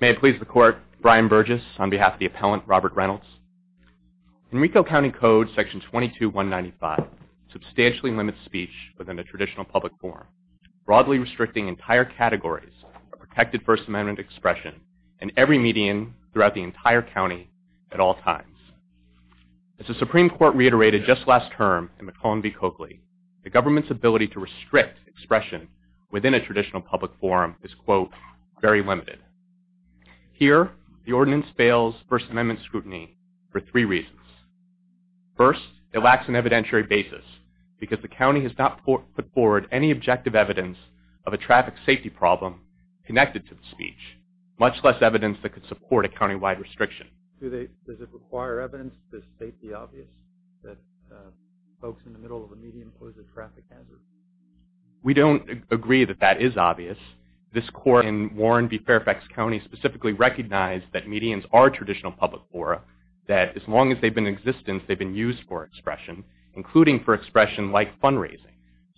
May it please the court, Brian Burgess on behalf of the appellant Robert Reynolds. In Rico County Code section 22-195 substantially limits speech within a traditional public forum, broadly restricting entire categories of protected First Amendment expression in every median throughout the entire county at all times. As the Supreme Court reiterated just last term in McClellan v. Coakley, the government's ability to restrict expression within a traditional public forum is, quote, very limited. Here, the ordinance fails First Amendment scrutiny for three reasons. First, it lacks an evidentiary basis because the county has not put forward any objective evidence of a traffic safety problem connected to the speech, much less evidence that could support a countywide restriction. Does it require evidence to state the obvious that folks in the middle of a median pose a traffic hazard? We don't agree that that is obvious. This court in Warren v. Fairfax County specifically recognized that medians are traditional public fora, that as long as they've been in existence, they've been used for expression, including for expression like fundraising.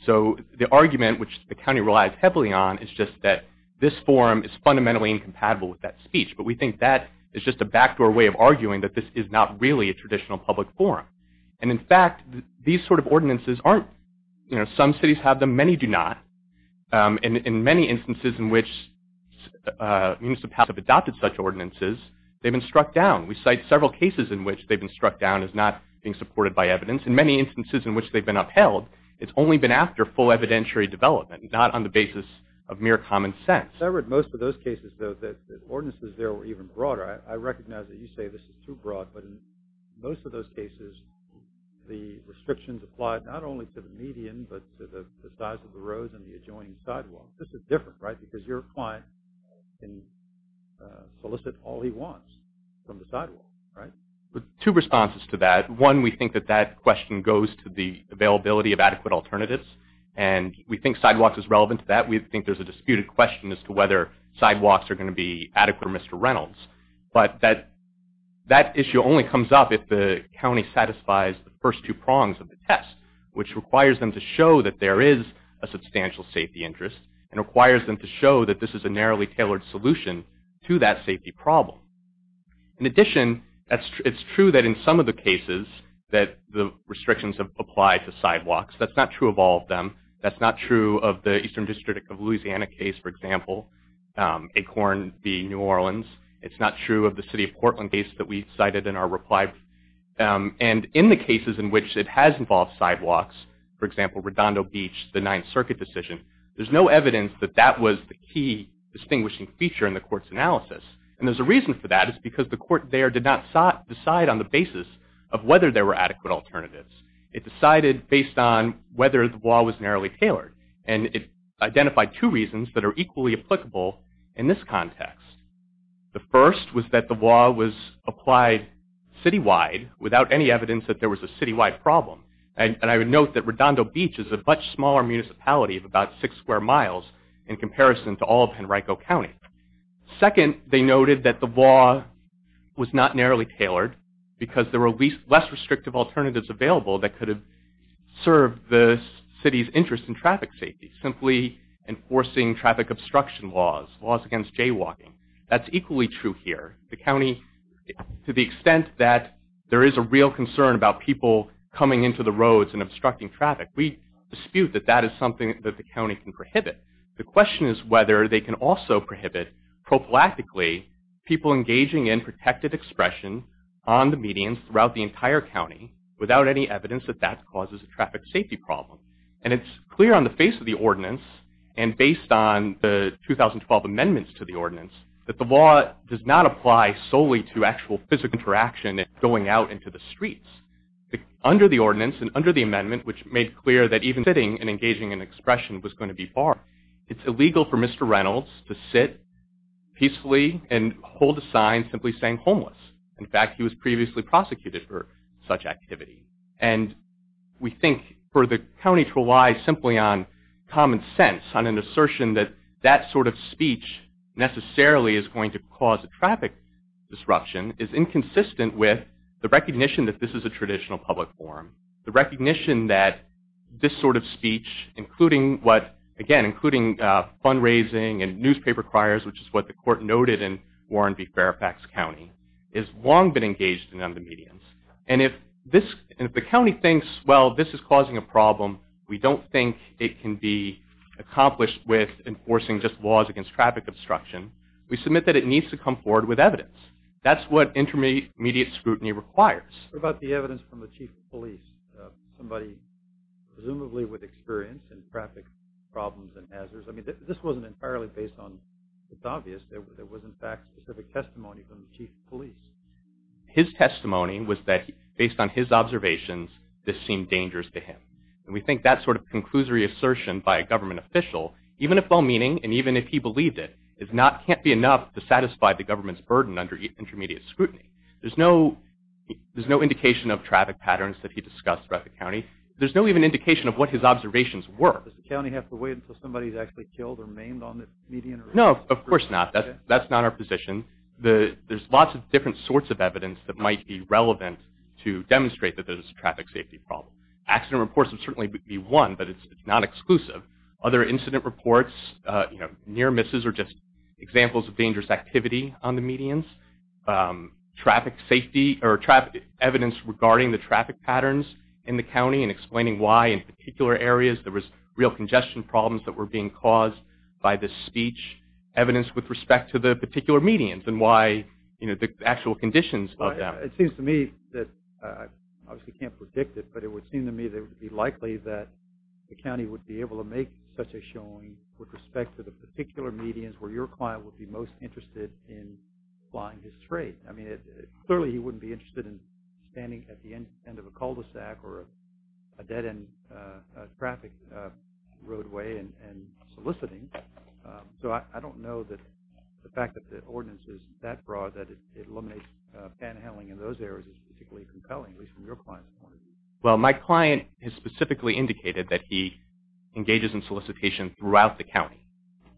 So the argument which the county relies heavily on is just that this forum is fundamentally incompatible with that speech. But we think that is just a backdoor way of arguing that this is not really a traditional public forum. And in fact, these sort of ordinances aren't, you know, some cities have them, many do not. And in many instances in which municipalities have adopted such ordinances, they've been struck down. We cite several cases in which they've been struck down as not being supported by evidence. In many instances in which they've been upheld, it's only been after full evidentiary development, not on the basis of mere common sense. I read most of those cases, though, that ordinances there were even broader. I recognize that you say this is too broad. But in most of those cases, the restrictions applied not only to the median, but to the size of the roads and the adjoining sidewalks. This is different, right? Because your client can solicit all he wants from the sidewalk, right? Two responses to that. One, we think that that question goes to the availability of adequate alternatives. And we think sidewalks is relevant to that. We think there's a disputed question as to whether sidewalks are going to be adequate for Mr. Reynolds. But that issue only comes up if the county satisfies the first two prongs of the test, which requires them to show that there is a substantial safety interest and requires them to show that this is a narrowly tailored solution to that safety problem. In addition, it's true that in some of the cases that the restrictions have applied to sidewalks. That's not true of all of them. That's not true of the Eastern District of New York, for example, Acorn v. New Orleans. It's not true of the City of Portland case that we cited in our reply. And in the cases in which it has involved sidewalks, for example, Redondo Beach, the Ninth Circuit decision, there's no evidence that that was the key distinguishing feature in the court's analysis. And there's a reason for that. It's because the court there did not decide on the basis of whether there were adequate alternatives. It decided based on whether the law was narrowly tailored. And it identified two reasons that are equally applicable in this context. The first was that the law was applied citywide without any evidence that there was a citywide problem. And I would note that Redondo Beach is a much smaller municipality of about six square miles in comparison to all of Henrico County. Second, they noted that the law was not narrowly tailored because there were less restrictive alternatives available that could have served the city's interest in traffic safety. Simply enforcing traffic obstruction laws, laws against jaywalking. That's equally true here. The county, to the extent that there is a real concern about people coming into the roads and obstructing traffic, we dispute that that is something that the county can prohibit. The question is whether they can also prohibit prophylactically people engaging in protected expression on the median throughout the entire county without any evidence that that causes a traffic safety problem. And it's clear on the face of the ordinance and based on the 2012 amendments to the ordinance that the law does not apply solely to actual physical interaction going out into the streets. Under the ordinance and under the amendment, which made clear that even sitting and engaging in expression was going to be far, it's illegal for Mr. Reynolds to sit peacefully and hold a sign simply saying homeless. In fact, he was previously prosecuted for such activity. And we think for the county to rely simply on common sense, on an assertion that that sort of speech necessarily is going to cause a traffic disruption is inconsistent with the recognition that this is a traditional public forum. The recognition that this sort of speech, including what, again, including fundraising and newspaper criers, which is what the court noted in Warren v. Fairfax County, has long been engaged in on the medians. And if the county thinks, well, this is causing a problem, we don't think it can be accomplished with enforcing just laws against traffic obstruction, we submit that it needs to come forward with evidence. That's what intermediate scrutiny requires. What about the evidence from the chief of police, somebody presumably with experience in traffic problems and hazards? I mean, this wasn't entirely based on, it's obvious, there was in fact specific testimony from the chief of police. His testimony was that, based on his observations, this seemed dangerous to him. And we think that sort of conclusory assertion by a government official, even if well-meaning and even if he believed it, can't be enough to satisfy the government's burden under intermediate scrutiny. There's no indication of traffic patterns that he discussed throughout the county. There's no even indication of what his observations were. Does the county have to wait until somebody's actually killed or maimed on the median? No, of course not. That's not our position. There's lots of different sorts of evidence that might be relevant to demonstrate that there's a traffic safety problem. Accident reports would certainly be one, but it's not exclusive. Other incident reports, near misses are just examples of dangerous activity on the medians. Traffic safety, or evidence regarding the traffic patterns in the county and explaining why in particular areas there was real congestion problems that were being caused by this speech, evidence with respect to the particular medians and why, you know, the actual conditions of that. It seems to me that, I obviously can't predict it, but it would seem to me that it would be likely that the county would be able to make such a showing with respect to the particular medians where your client would be most interested in flying his trade. I mean, clearly he wouldn't be interested in standing at the end of a cul-de-sac or a dead-end traffic roadway and soliciting. So I don't know that the fact that the ordinance is that broad that it eliminates panhandling in those areas is particularly compelling, at least from your point of view. Well, my client has specifically indicated that he engages in solicitation throughout the county.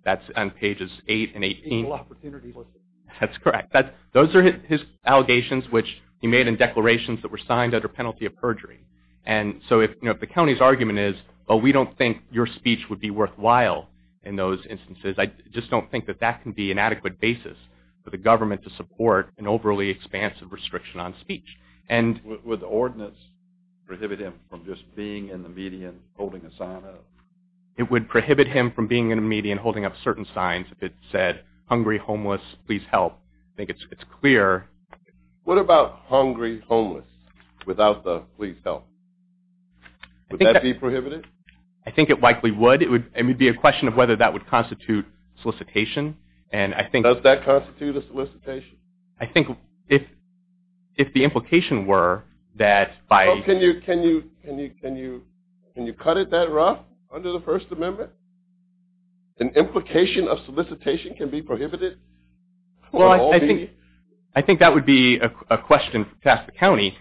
That's on pages 8 and 18. Single opportunity solicitation. That's correct. Those are his allegations, which he made in declarations that were signed under penalty of perjury. And so if the county's argument is, oh, we don't think your speech would be worthwhile in those instances, I just don't think that that can be an adequate basis for the government to support an overly expansive restriction on speech. Would the ordinance prohibit him from just being in the median holding a sign up? It would prohibit him from being in a median holding up certain signs if it said, hungry, homeless, please help. I think it's clear. What about hungry, homeless, without the please help? Would that be prohibited? I think it likely would. It would be a question of whether that would constitute solicitation. Does that constitute a solicitation? I think if the implication were that by... Can you cut it that rough under the First Amendment? An implication of solicitation can be prohibited? Well, I think that would be a question to ask the county.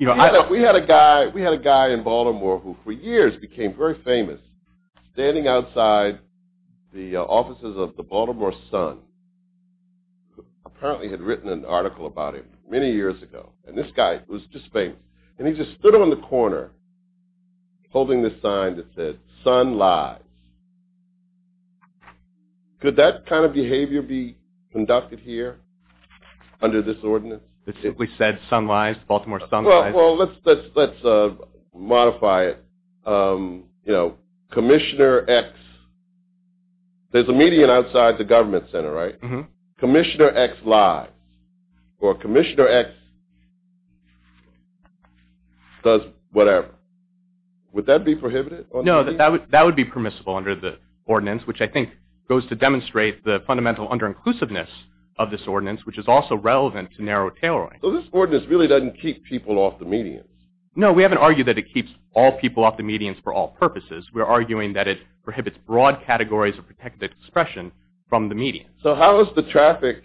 We had a guy in Baltimore who for years became very famous standing outside the offices of the Baltimore Sun, who apparently had written an article about him many years ago. And this guy was just famous. And he just stood on the corner holding this sign that said, Baltimore Sun Lies. Could that kind of behavior be conducted here under this ordinance? It simply said Sun Lies, Baltimore Sun Lies. Well, let's modify it. You know, Commissioner X. There's a median outside the government center, right? Commissioner X lies. Or Commissioner X does whatever. Would that be prohibited? No, that would be permissible under the ordinance, which I think goes to demonstrate the fundamental under-inclusiveness of this ordinance, which is also relevant to narrow tailoring. So this ordinance really doesn't keep people off the median? No, we haven't argued that it keeps all people off the median for all purposes. We're arguing that it prohibits broad categories of protected expression from the median. So how is the traffic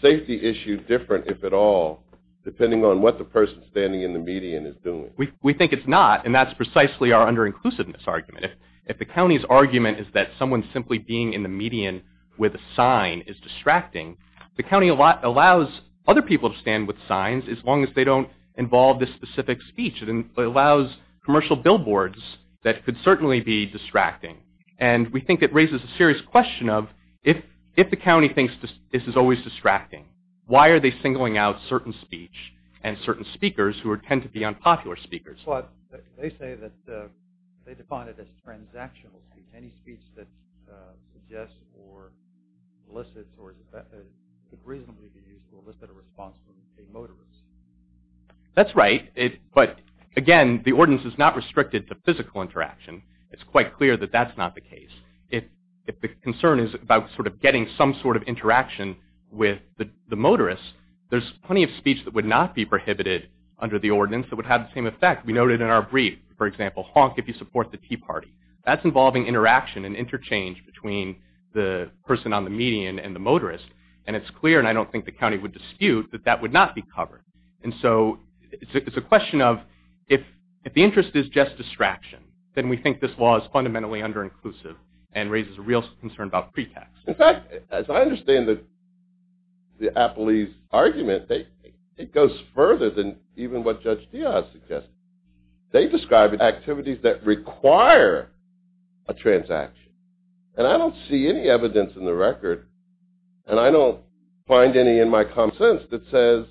safety issue different, if at all, depending on what the person standing in the median is doing? We think it's not, and that's precisely our under-inclusiveness argument. If the county's argument is that someone simply being in the median with a sign is distracting, the county allows other people to stand with signs as long as they don't involve this specific speech. It allows commercial billboards that could certainly be distracting. And we think it raises a serious question of, if the county thinks this is always distracting, why are they singling out certain speech and certain speakers who tend to be unpopular speakers? Well, they say that they define it as transactional. Any speech that suggests or elicits or could reasonably be used to elicit a response from a motorist. That's right, but again, the ordinance is not restricted to physical interaction. It's quite clear that that's not the case. If the concern is about getting some sort of interaction with the motorist, there's plenty of speech that would not be prohibited under the ordinance that would have the same effect. We noted in our brief, for example, honk if you support the tea party. That's involving interaction and interchange between the person on the median and the motorist. And it's clear, and I don't think the county would dispute, that that would not be covered. And so, it's a question of, if the interest is just distraction, then we think this law is fundamentally under-inclusive and raises a real concern about pretext. In fact, as I understand the Apley's argument, it goes further than even what Judge Diaz suggested. They describe activities that require a transaction. And I don't see any evidence in the record, and I don't find any in my common sense, that says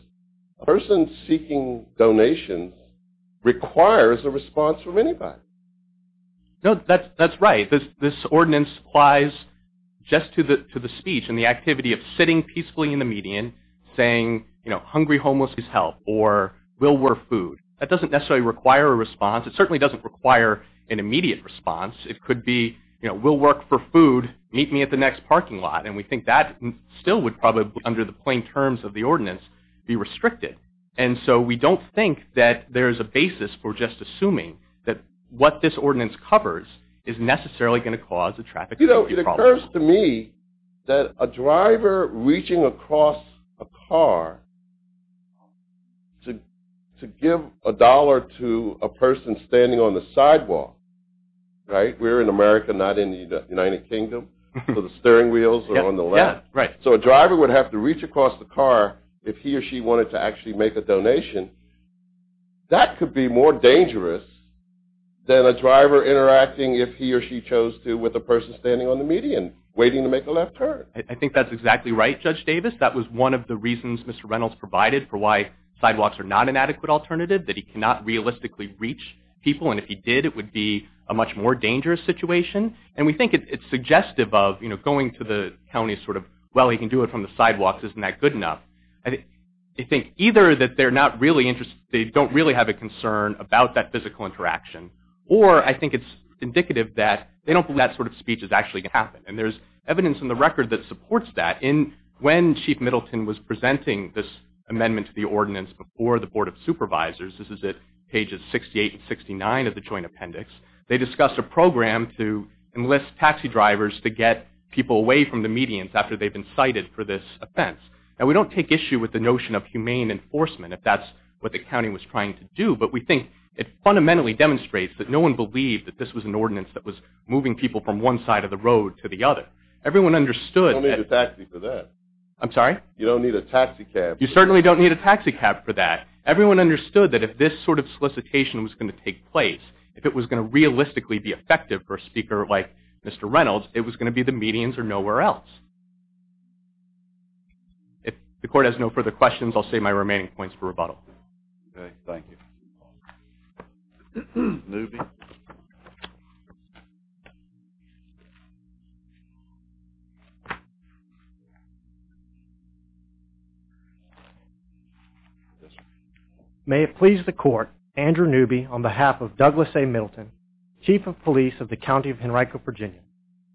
a person seeking donations requires a response from anybody. No, that's right. This ordinance applies just to the speech and the activity of sitting peacefully in the median, saying, you know, hungry homeless is help, or we'll work food. That doesn't necessarily require a response. It certainly doesn't require an immediate response. It could be, you know, we'll work for food. Meet me at the next parking lot. And we think that still would probably, under the plain terms of the ordinance, be restricted. And so, we don't think that there is a basis for just assuming that what this ordinance covers is necessarily going to cause a traffic safety problem. You know, it occurs to me that a driver reaching across a car to give a dollar to a person standing on the sidewalk, right? We're in America, not in the United Kingdom, so the steering wheels are on the left. Yeah, right. So, a driver would have to reach across the car if he or she wanted to actually make a donation. That could be more dangerous than a driver interacting, if he or she chose to, with a person standing on the median waiting to make a left turn. I think that's exactly right, Judge Davis. That was one of the reasons Mr. Reynolds provided for why sidewalks are not an adequate alternative, that he cannot realistically reach people. And if he did, it would be a much more dangerous situation. And we think it's suggestive of, you know, going to the county sort of, well, he can do it from the sidewalks, isn't that good enough? I think either that they're not really interested, they don't really have a concern about that physical interaction, or I think it's indicative that they don't believe that sort of speech is actually going to happen. And there's evidence in the record that supports that. When Chief Middleton was presenting this amendment to the ordinance before the Board of Supervisors, this is at pages 68 and 69 of the Joint Appendix, they discussed a program to enlist taxi drivers to get people away from the medians after they've been cited for this offense. Now, we don't take issue with the notion of humane enforcement, if that's what the county was trying to do, but we think it fundamentally demonstrates that no one believed that this was an ordinance that was moving people from one side of the road to the other. Everyone understood that— You don't need a taxi for that. I'm sorry? You don't need a taxi cab. You certainly don't need a taxi cab for that. Everyone understood that if this sort of solicitation was going to take place, if it was going to realistically be effective for a speaker like Mr. Reynolds, it was going to be the medians or nowhere else. If the court has no further questions, I'll save my remaining points for rebuttal. Okay, thank you. Newby. May it please the court, Andrew Newby on behalf of Douglas A. Middleton, Chief of Police of the County of Henrico, Virginia.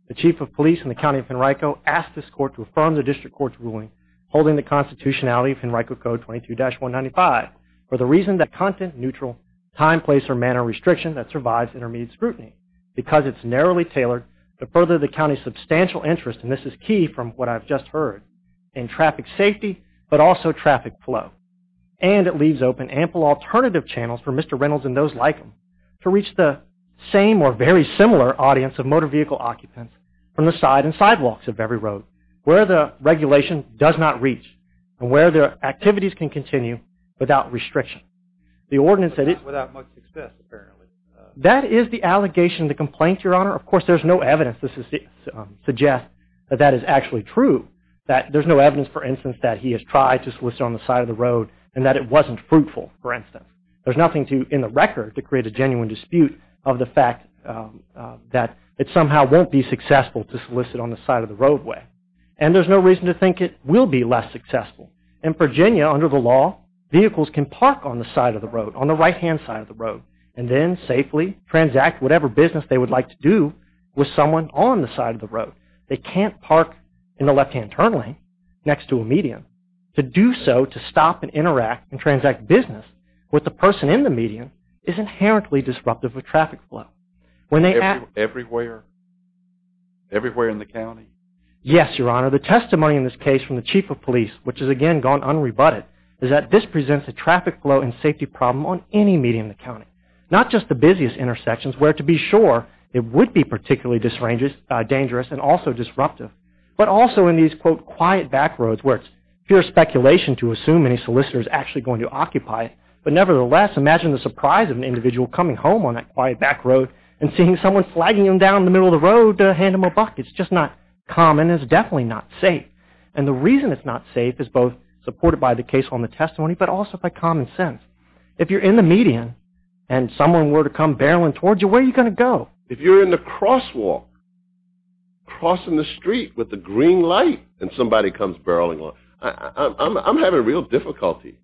The Chief of Police in the County of Henrico asked this court to affirm the district court's ruling holding the constitutionality of Henrico Code 22-195 for the reason that content-neutral time, place, or manner restriction that survives intermediate scrutiny because it's narrowly tailored to further the county's substantial interest, and this is key from what I've just heard, in traffic safety but also traffic flow. And it leaves open ample alternative channels for Mr. Reynolds and those like him to reach the same or very similar audience of motor vehicle occupants from the side and sidewalks of every road where the regulation does not reach and where their activities can continue without restriction. Without much success, apparently. That is the allegation, the complaint, Your Honor. Of course, there's no evidence to suggest that that is actually true, that there's no evidence, for instance, that he has tried to solicit on the side of the road and that it wasn't fruitful, for instance. There's nothing in the record to create a genuine dispute of the fact that it somehow won't be successful to solicit on the side of the roadway. And there's no reason to think it will be less successful. In Virginia, under the law, vehicles can park on the side of the road, on the right-hand side of the road, and then safely transact whatever business they would like to do with someone on the side of the road. They can't park in the left-hand turn lane next to a median. To do so, to stop and interact and transact business with the person in the median Everywhere? Everywhere in the county? Yes, Your Honor. The testimony in this case from the Chief of Police, which has again gone unrebutted, is that this presents a traffic flow and safety problem on any median in the county, not just the busiest intersections where, to be sure, it would be particularly dangerous and also disruptive, but also in these, quote, quiet back roads where it's pure speculation to assume any solicitor is actually going to occupy it, but nevertheless, imagine the surprise of an individual coming home on that quiet back road and seeing someone flagging him down in the middle of the road to hand him a buck. It's just not common. It's definitely not safe. And the reason it's not safe is both supported by the case on the testimony, but also by common sense. If you're in the median and someone were to come barreling towards you, where are you going to go? If you're in the crosswalk crossing the street with the green light and somebody comes barreling along, I'm having real difficulty.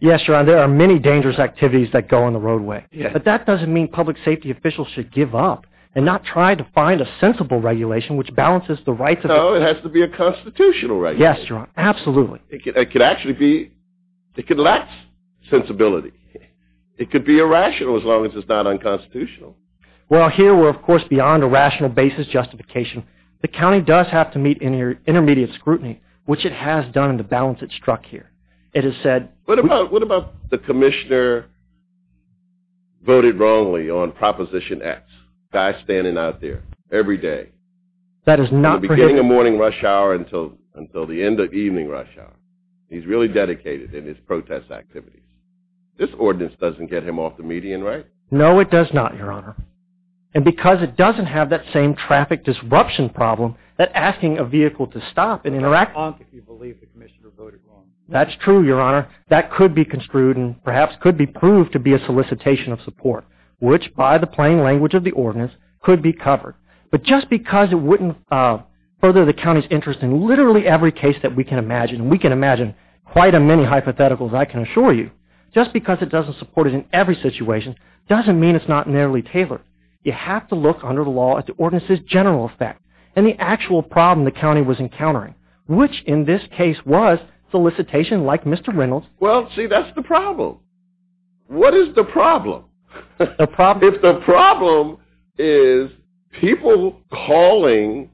Yes, Your Honor, there are many dangerous activities that go on the roadway, but that doesn't mean public safety officials should give up and not try to find a sensible regulation which balances the rights of the people. No, it has to be a constitutional regulation. Yes, Your Honor, absolutely. It could actually be. It could lack sensibility. It could be irrational as long as it's not unconstitutional. Well, here we're, of course, beyond a rational basis justification. The county does have to meet intermediate scrutiny, which it has done in the balance it struck here. What about the commissioner voted wrongly on Proposition X? A guy standing out there every day from the beginning of morning rush hour until the end of evening rush hour. He's really dedicated in his protest activities. This ordinance doesn't get him off the median, right? No, it does not, Your Honor. And because it doesn't have that same traffic disruption problem that asking a vehicle to stop and interact... That's true, Your Honor. That could be construed and perhaps could be proved to be a solicitation of support, which by the plain language of the ordinance could be covered. But just because it wouldn't further the county's interest in literally every case that we can imagine, and we can imagine quite a many hypotheticals, I can assure you, just because it doesn't support it in every situation doesn't mean it's not nearly tailored. You have to look under the law at the ordinance's general effect and the actual problem the county was encountering, which in this case was solicitation like Mr. Reynolds... Well, see, that's the problem. What is the problem? If the problem is people calling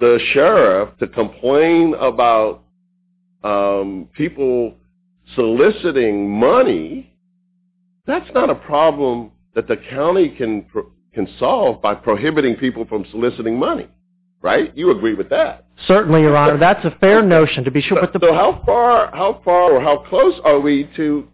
the sheriff to complain about people soliciting money, that's not a problem that the county can solve by prohibiting people from soliciting money, right? You agree with that? Certainly, Your Honor. That's a fair notion to be sure. So how far or how close are we to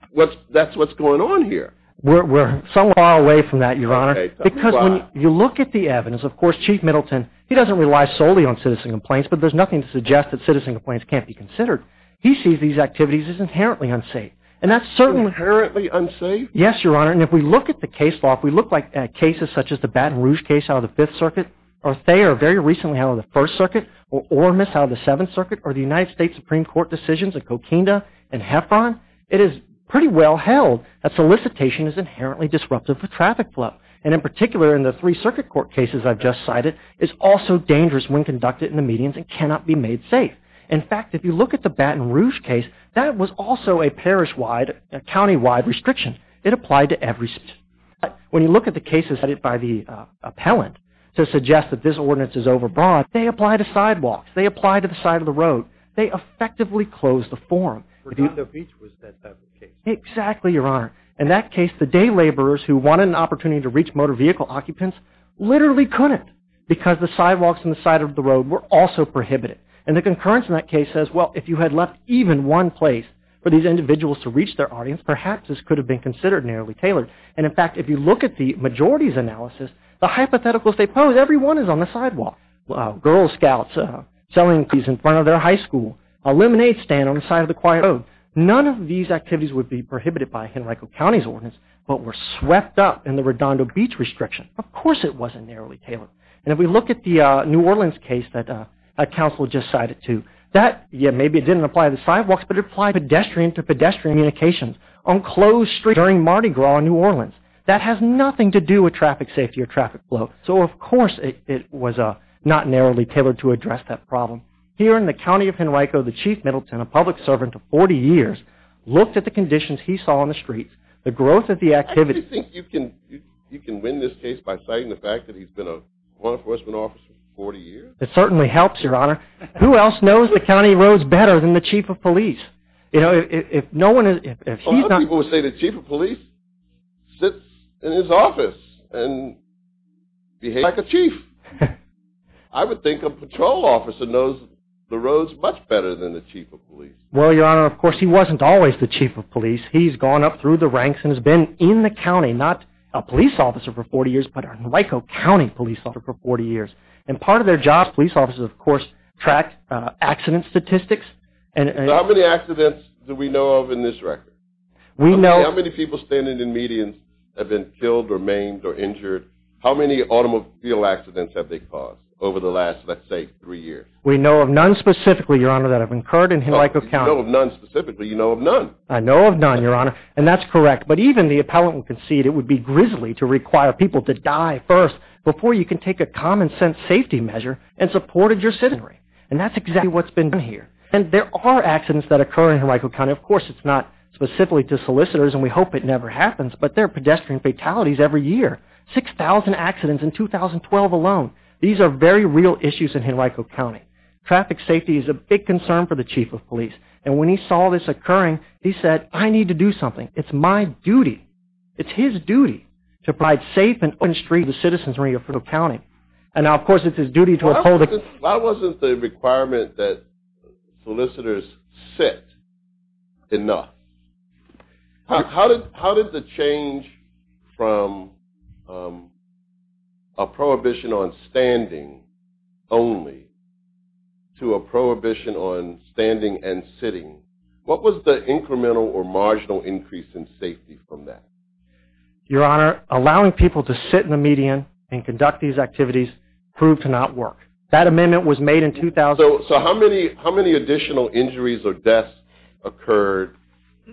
that's what's going on here? We're somewhat far away from that, Your Honor. Because when you look at the evidence, of course, Chief Middleton, he doesn't rely solely on citizen complaints, but there's nothing to suggest that citizen complaints can't be considered. He sees these activities as inherently unsafe. Inherently unsafe? Yes, Your Honor, and if we look at the case law, if we look at cases such as the Baton Rouge case out of the Fifth Circuit or Thayer very recently out of the First Circuit or Ormis out of the Seventh Circuit or the United States Supreme Court decisions in Coquinda and Heffron, it is pretty well held that solicitation is inherently disruptive of traffic flow. And in particular, in the Three Circuit Court cases I've just cited, it's also dangerous when conducted in the medians and cannot be made safe. In fact, if you look at the Baton Rouge case, that was also a parish-wide, county-wide restriction. It applied to every... When you look at the cases cited by the appellant to suggest that this ordinance is overbroad, they apply to sidewalks, they apply to the side of the road, they effectively close the forum. Bernardo Beach was that type of case. Exactly, Your Honor. In that case, the day laborers who wanted an opportunity to reach motor vehicle occupants literally couldn't because the sidewalks and the side of the road were also prohibited. And the concurrence in that case says, well, if you had left even one place for these individuals to reach their audience, perhaps this could have been considered narrowly tailored. And, in fact, if you look at the majority's analysis, the hypotheticals they pose, everyone is on the sidewalk. Girl scouts selling cookies in front of their high school, a lemonade stand on the side of the quiet road. None of these activities would be prohibited by Henrico County's ordinance, but were swept up in the Redondo Beach restriction. Of course it wasn't narrowly tailored. And if we look at the New Orleans case that counsel just cited too, that, yeah, maybe it didn't apply to the sidewalks, but it applied to pedestrian-to-pedestrian communications. On closed streets during Mardi Gras in New Orleans, that has nothing to do with traffic safety or traffic flow. So, of course, it was not narrowly tailored to address that problem. Here in the County of Henrico, the Chief Middleton, a public servant of 40 years, looked at the conditions he saw on the streets, the growth of the activity. Do you think you can win this case by citing the fact that he's been a law enforcement officer for 40 years? It certainly helps, Your Honor. Who else knows the county roads better than the Chief of Police? A lot of people would say the Chief of Police sits in his office and behaves like a chief. I would think a patrol officer knows the roads much better than the Chief of Police. Well, Your Honor, of course, he wasn't always the Chief of Police. He's gone up through the ranks and has been in the county, not a police officer for 40 years, but a Henrico County police officer for 40 years. And part of their job as police officers, of course, is to track accident statistics. How many accidents do we know of in this record? How many people standing in medians have been killed or maimed or injured? How many automobile accidents have they caused over the last, let's say, three years? We know of none specifically, Your Honor, that I've incurred in Henrico County. You know of none specifically? You know of none? I know of none, Your Honor, and that's correct. But even the appellant would concede it would be grisly to require people to die first before you can take a common-sense safety measure and supported your citizenry. And that's exactly what's been done here. And there are accidents that occur in Henrico County. Of course, it's not specifically to solicitors, and we hope it never happens, but there are pedestrian fatalities every year, 6,000 accidents in 2012 alone. These are very real issues in Henrico County. Traffic safety is a big concern for the Chief of Police. And when he saw this occurring, he said, I need to do something. It's my duty. It's his duty to provide safe and open streets for the citizens of Henrico County. And now, of course, it's his duty to uphold it. Why wasn't the requirement that solicitors sit enough? How did the change from a prohibition on standing only to a prohibition on standing and sitting, what was the incremental or marginal increase in safety from that? Your Honor, allowing people to sit in the median and conduct these activities proved to not work. That amendment was made in 2000. So how many additional injuries or deaths occurred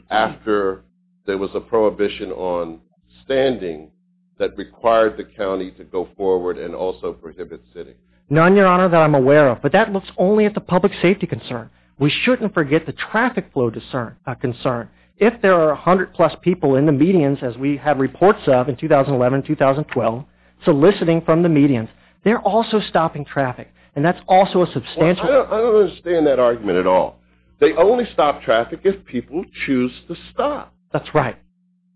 after there was a prohibition on standing that required the county to go forward and also prohibit sitting? None, Your Honor, that I'm aware of. But that looks only at the public safety concern. We shouldn't forget the traffic flow concern. If there are 100-plus people in the medians, as we have reports of in 2011 and 2012, soliciting from the medians, they're also stopping traffic. And that's also a substantial... I don't understand that argument at all. They only stop traffic if people choose to stop. That's right.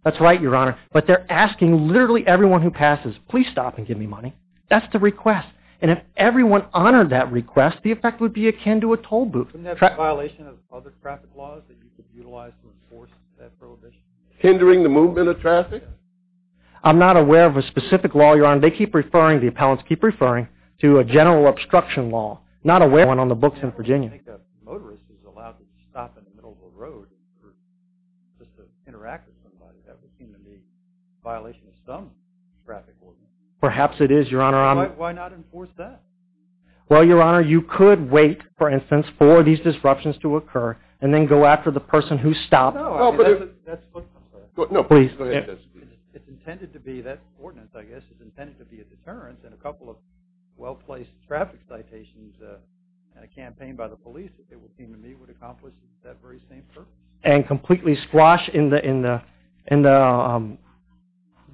That's right, Your Honor. But they're asking literally everyone who passes, please stop and give me money. That's the request. And if everyone honored that request, the effect would be akin to a tollbooth. Isn't that a violation of other traffic laws that you could utilize to enforce that prohibition? Hindering the movement of traffic? I'm not aware of a specific law, Your Honor. They keep referring, the appellants keep referring to a general obstruction law. Not aware of one on the books in Virginia. I don't think a motorist is allowed to stop in the middle of the road just to interact with somebody. That would seem to me a violation of some traffic ordinance. Perhaps it is, Your Honor. Why not enforce that? Well, Your Honor, you could wait, for instance, for these disruptions to occur and then go after the person who stopped. No, please. It's intended to be that ordinance, I guess. It's intended to be a deterrence and a couple of well-placed traffic citations and a campaign by the police, it would seem to me, would accomplish that very same purpose. And completely squash in the...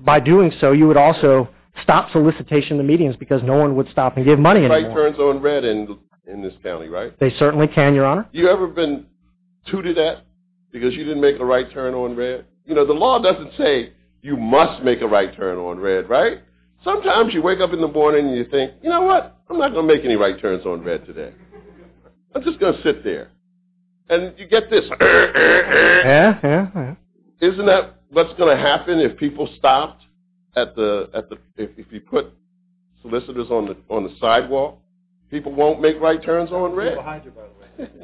By doing so, you would also stop solicitation of the medians because no one would stop and give money anymore. The light turns on red in this county, right? They certainly can, Your Honor. You ever been tooted at because you didn't make a right turn on red? You know, the law doesn't say you must make a right turn on red, right? Sometimes you wake up in the morning and you think, you know what, I'm not going to make any right turns on red today. I'm just going to sit there. And you get this... Isn't that what's going to happen if people stopped at the... If you put solicitors on the sidewalk, people won't make right turns on red. I'm right behind you,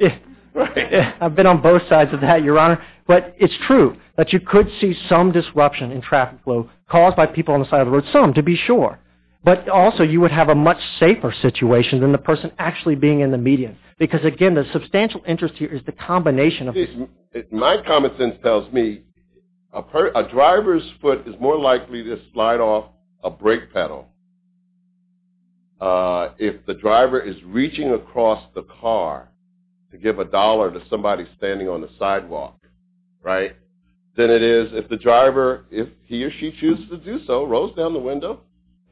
by the way. I've been on both sides of that, Your Honor. But it's true that you could see some disruption in traffic flow caused by people on the side of the road, some, to be sure. But also you would have a much safer situation than the person actually being in the median because, again, the substantial interest here is the combination of... My common sense tells me a driver's foot is more likely to slide off a brake pedal if the driver is reaching across the car to give a dollar to somebody standing on the sidewalk, right? Then it is if the driver, if he or she chooses to do so, rolls down the window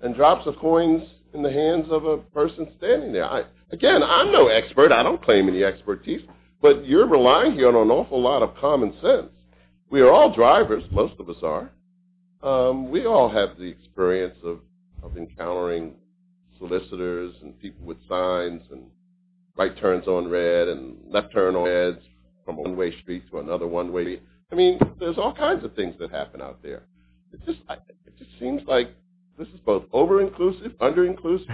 and drops the coins in the hands of a person standing there. Again, I'm no expert. I don't claim any expertise. But you're relying here on an awful lot of common sense. We are all drivers. Most of us are. We all have the experience of encountering solicitors and people with signs and right turns on red and left turn on red from one way street to another one way. I mean, there's all kinds of things that happen out there. It just seems like this is both over-inclusive, under-inclusive,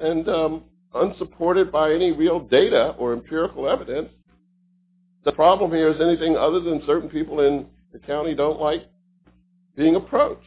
and unsupported by any real data or empirical evidence. The problem here is anything other than certain people in the county don't like being approached.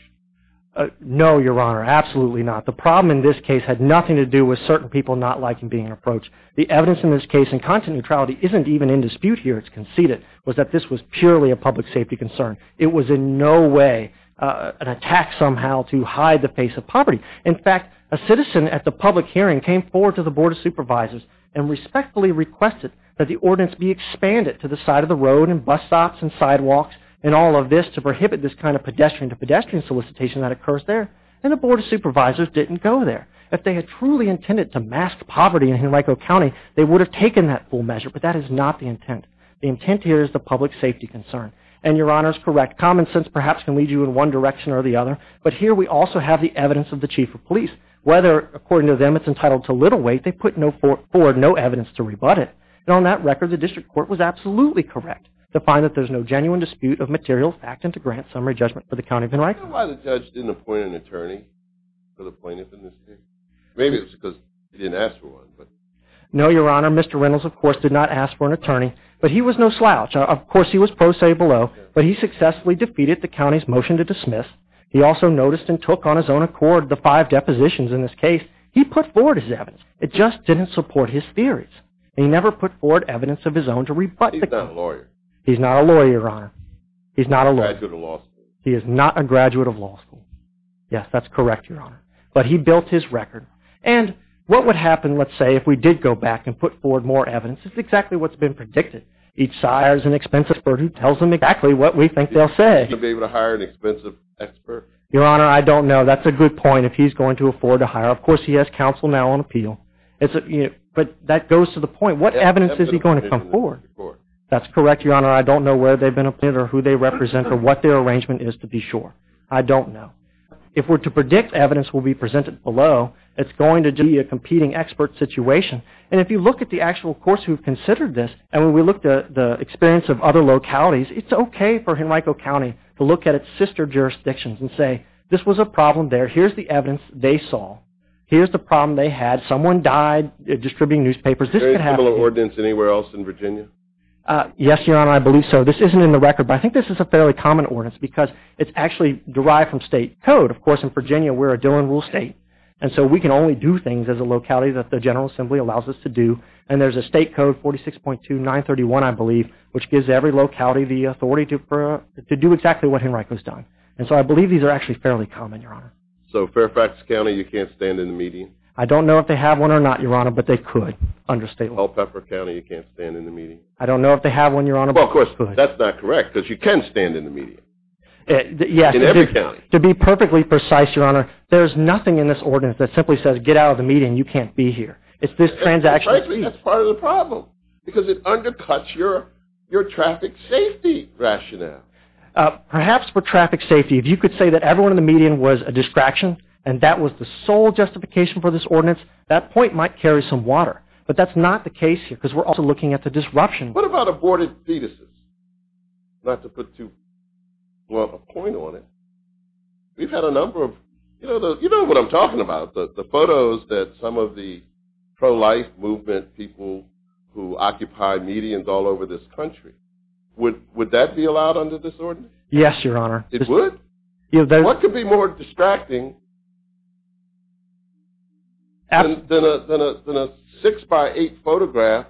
No, Your Honor, absolutely not. The problem in this case had nothing to do with certain people not liking being approached. The evidence in this case in content neutrality isn't even in dispute here, it's conceded, was that this was purely a public safety concern. It was in no way an attack somehow to hide the face of poverty. In fact, a citizen at the public hearing came forward to the Board of Supervisors and respectfully requested that the ordinance be expanded to the side of the road and bus stops and sidewalks and all of this to prohibit this kind of pedestrian-to-pedestrian solicitation that occurs there, and the Board of Supervisors didn't go there. If they had truly intended to mask poverty in Henrico County, they would have taken that full measure, but that is not the intent. The intent here is the public safety concern, and Your Honor is correct. Common sense perhaps can lead you in one direction or the other, but here we also have the evidence of the Chief of Police. Whether, according to them, it's entitled to little weight, they put forward no evidence to rebut it. And on that record, the district court was absolutely correct to find that there's no genuine dispute of material fact and to grant summary judgment for the County of Henrico. Do you know why the judge didn't appoint an attorney for the plaintiff in this case? Maybe it was because he didn't ask for one. No, Your Honor. Mr. Reynolds, of course, did not ask for an attorney, but he was no slouch. Of course, he was pro se below, but he successfully defeated the county's motion to dismiss. He also noticed and took on his own accord the five depositions in this case. He put forward his evidence. It just didn't support his theories. He never put forward evidence of his own to rebut the case. He's not a lawyer. He's not a lawyer, Your Honor. He's a graduate of law school. He is not a graduate of law school. Yes, that's correct, Your Honor. But he built his record. And what would happen, let's say, if we did go back and put forward more evidence, is exactly what's been predicted. Each sire is an expensive bird who tells them exactly what we think they'll say. Is he going to be able to hire an expensive expert? Your Honor, I don't know. That's a good point, if he's going to afford to hire. Of course, he has counsel now on appeal. But that goes to the point, what evidence is he going to come forward? That's correct, Your Honor. I don't know where they've been appointed or who they represent or what their arrangement is, to be sure. I don't know. If we're to predict evidence will be presented below, it's going to be a competing expert situation. And if you look at the actual courts who have considered this, and when we look at the experience of other localities, it's okay for Henrico County to look at its sister jurisdictions and say this was a problem there. Here's the evidence they saw. Here's the problem they had. Someone died distributing newspapers. Is there a similar ordinance anywhere else in Virginia? Yes, Your Honor, I believe so. This isn't in the record, but I think this is a fairly common ordinance because it's actually derived from state code. Of course, in Virginia, we're a Dillon Rule state, and so we can only do things as a locality that the General Assembly allows us to do. And there's a state code, 46.2931, I believe, which gives every locality the authority to do exactly what Henrico's done. And so I believe these are actually fairly common, Your Honor. So Fairfax County, you can't stand in the median? I don't know if they have one or not, Your Honor, but they could under state law. Bellpepper County, you can't stand in the median? I don't know if they have one, Your Honor, but they could. Well, of course, that's not correct because you can stand in the median in every county. To be perfectly precise, Your Honor, there's nothing in this ordinance that simply says get out of the median, you can't be here. It's this transaction. Frankly, that's part of the problem because it undercuts your traffic safety rationale. Perhaps for traffic safety, if you could say that everyone in the median was a distraction and that was the sole justification for this ordinance, that point might carry some water. But that's not the case here because we're also looking at the disruption. What about aborted fetuses? Not to put too well of a point on it. We've had a number of, you know what I'm talking about, the photos that some of the pro-life movement people who occupy medians all over this country, would that be allowed under this ordinance? Yes, Your Honor. It would? What could be more distracting than a 6x8 photograph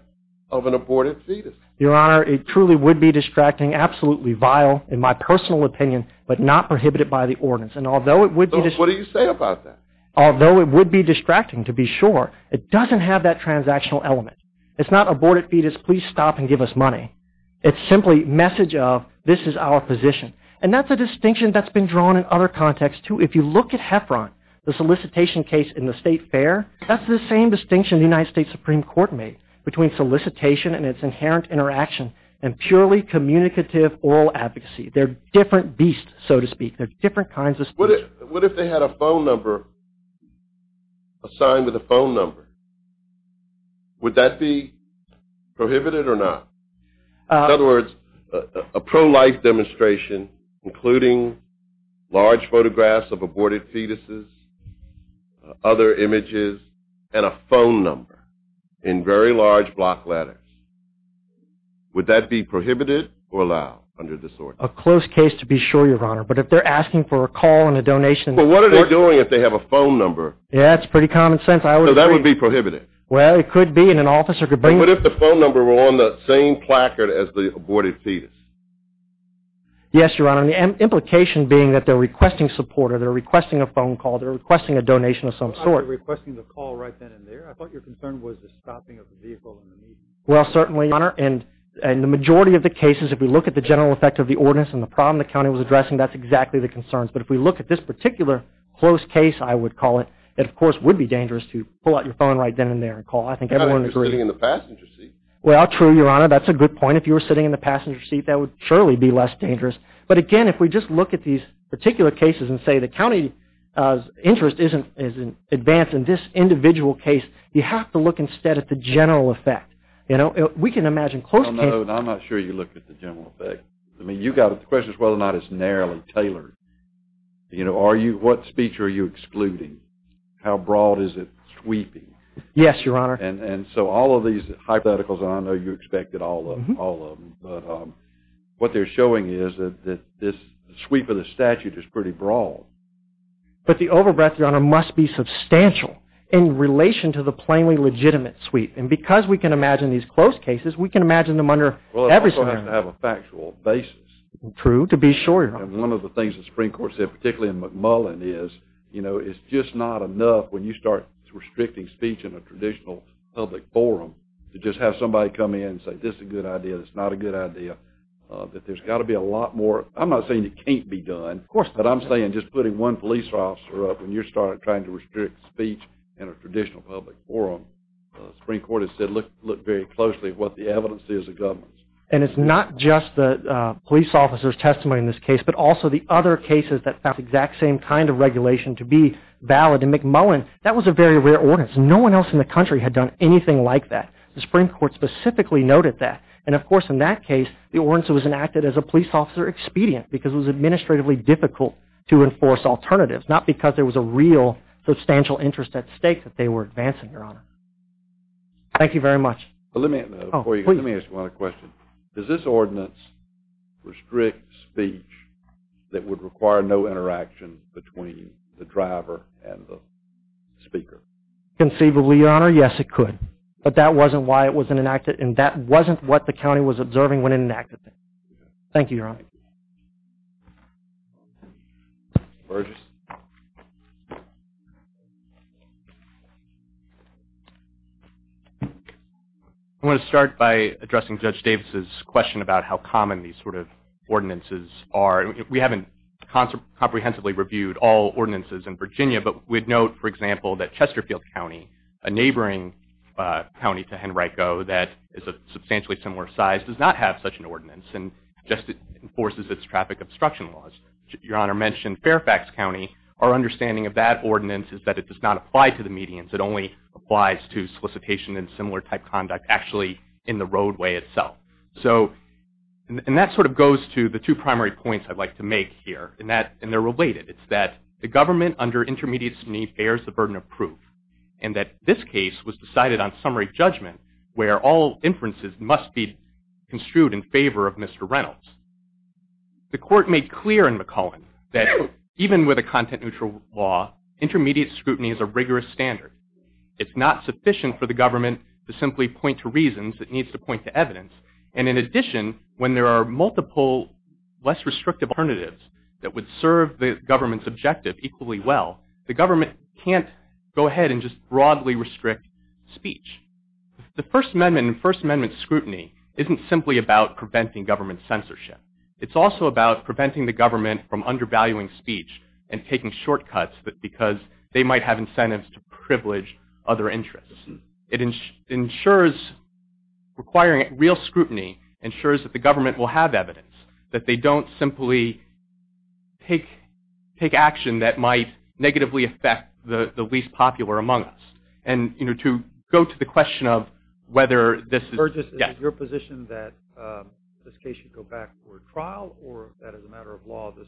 of an aborted fetus? Your Honor, it truly would be distracting, absolutely vile in my personal opinion, but not prohibited by the ordinance. What do you say about that? Although it would be distracting to be sure, it doesn't have that transactional element. It's not aborted fetus, please stop and give us money. It's simply message of this is our position. And that's a distinction that's been drawn in other contexts too. If you look at Heffron, the solicitation case in the state fair, that's the same distinction the United States Supreme Court made between solicitation and its inherent interaction and purely communicative oral advocacy. They're different beasts, so to speak. They're different kinds of solicitations. What if they had a phone number assigned with a phone number? Would that be prohibited or not? In other words, a pro-life demonstration, including large photographs of aborted fetuses, other images, and a phone number in very large block letters. Would that be prohibited or allowed under this ordinance? A close case to be sure, Your Honor. But if they're asking for a call and a donation. But what are they doing if they have a phone number? Yeah, it's pretty common sense. So that would be prohibited. Well, it could be and an officer could bring it. But if the phone number were on the same placard as the aborted fetus? Yes, Your Honor. And the implication being that they're requesting support or they're requesting a phone call, they're requesting a donation of some sort. I thought you were requesting the call right then and there. I thought your concern was the stopping of the vehicle in the median. Well, certainly, Your Honor. And the majority of the cases, if we look at the general effect of the ordinance and the problem the county was addressing, that's exactly the concerns. But if we look at this particular close case, I would call it, it, of course, would be dangerous to pull out your phone right then and there and call. I think everyone would agree. Not if you're sitting in the passenger seat. Well, true, Your Honor. That's a good point. If you were sitting in the passenger seat, that would surely be less dangerous. But, again, if we just look at these particular cases and say the county's interest is advanced in this individual case, you have to look instead at the general effect. We can imagine close cases. No, no. I'm not sure you look at the general effect. I mean, the question is whether or not it's narrowly tailored. You know, what speech are you excluding? How broad is it sweeping? Yes, Your Honor. And so all of these hypotheticals, and I know you expected all of them, but what they're showing is that this sweep of the statute is pretty broad. But the overbreath, Your Honor, must be substantial in relation to the plainly legitimate sweep. And because we can imagine these close cases, we can imagine them under every scenario. You have to have a factual basis. True, to be sure, Your Honor. And one of the things the Supreme Court said, particularly in McMullen, is, you know, it's just not enough when you start restricting speech in a traditional public forum to just have somebody come in and say this is a good idea, this is not a good idea, that there's got to be a lot more. I'm not saying it can't be done. Of course not. But I'm saying just putting one police officer up, when you start trying to restrict speech in a traditional public forum, the Supreme Court has said look very closely at what the evidence is of governance. And it's not just the police officer's testimony in this case, but also the other cases that have the exact same kind of regulation to be valid. In McMullen, that was a very rare ordinance. No one else in the country had done anything like that. The Supreme Court specifically noted that. And, of course, in that case, the ordinance was enacted as a police officer expedient because it was administratively difficult to enforce alternatives, not because there was a real substantial interest at stake that they were advancing, Your Honor. Thank you very much. Let me ask you one other question. Does this ordinance restrict speech that would require no interaction between the driver and the speaker? Conceivably, Your Honor, yes it could. But that wasn't why it was enacted, and that wasn't what the county was observing when it enacted it. Thank you, Your Honor. Thank you. I want to start by addressing Judge Davis's question about how common these sort of ordinances are. We haven't comprehensively reviewed all ordinances in Virginia, but we'd note, for example, that Chesterfield County, a neighboring county to Henrico that is a substantially similar size, does not have such an ordinance. It just enforces its traffic obstruction laws. Your Honor mentioned Fairfax County. Our understanding of that ordinance is that it does not apply to the medians. It only applies to solicitation and similar type conduct actually in the roadway itself. And that sort of goes to the two primary points I'd like to make here, and they're related. It's that the government under intermediates' need bears the burden of proof, and that this case was decided on summary judgment where all inferences must be construed in favor of Mr. Reynolds. The court made clear in McCullen that even with a content-neutral law, intermediate scrutiny is a rigorous standard. It's not sufficient for the government to simply point to reasons. It needs to point to evidence. And in addition, when there are multiple less restrictive alternatives that would serve the government's objective equally well, the government can't go ahead and just broadly restrict speech. The First Amendment and First Amendment scrutiny isn't simply about preventing government censorship. It's also about preventing the government from undervaluing speech and taking shortcuts because they might have incentives to privilege other interests. It ensures requiring real scrutiny ensures that the government will have evidence, that they don't simply take action that might negatively affect the least popular amongst. And, you know, to go to the question of whether this is, yes. Burgess, is your position that this case should go back for a trial, or that as a matter of law this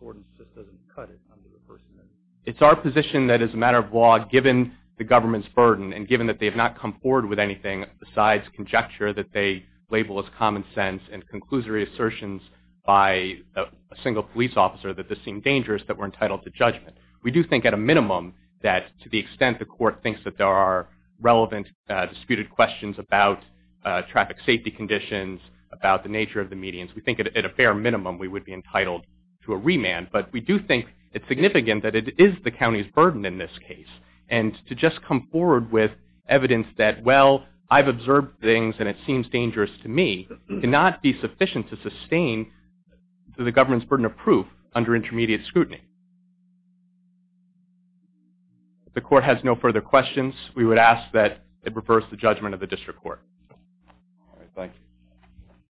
ordinance just doesn't cut it under the First Amendment? It's our position that as a matter of law, given the government's burden and given that they have not come forward with anything besides conjecture that they label as common sense and conclusory assertions by a single police officer that this seemed dangerous, that we're entitled to judgment. We do think at a minimum that to the extent the court thinks that there are relevant disputed questions about traffic safety conditions, about the nature of the medians, we think at a fair minimum we would be entitled to a remand. But we do think it's significant that it is the county's burden in this case. And to just come forward with evidence that, well, I've observed things and it seems dangerous to me, cannot be sufficient to sustain the government's burden of proof under intermediate scrutiny. If the court has no further questions, we would ask that it reverse the judgment of the district court. All right. Thank you.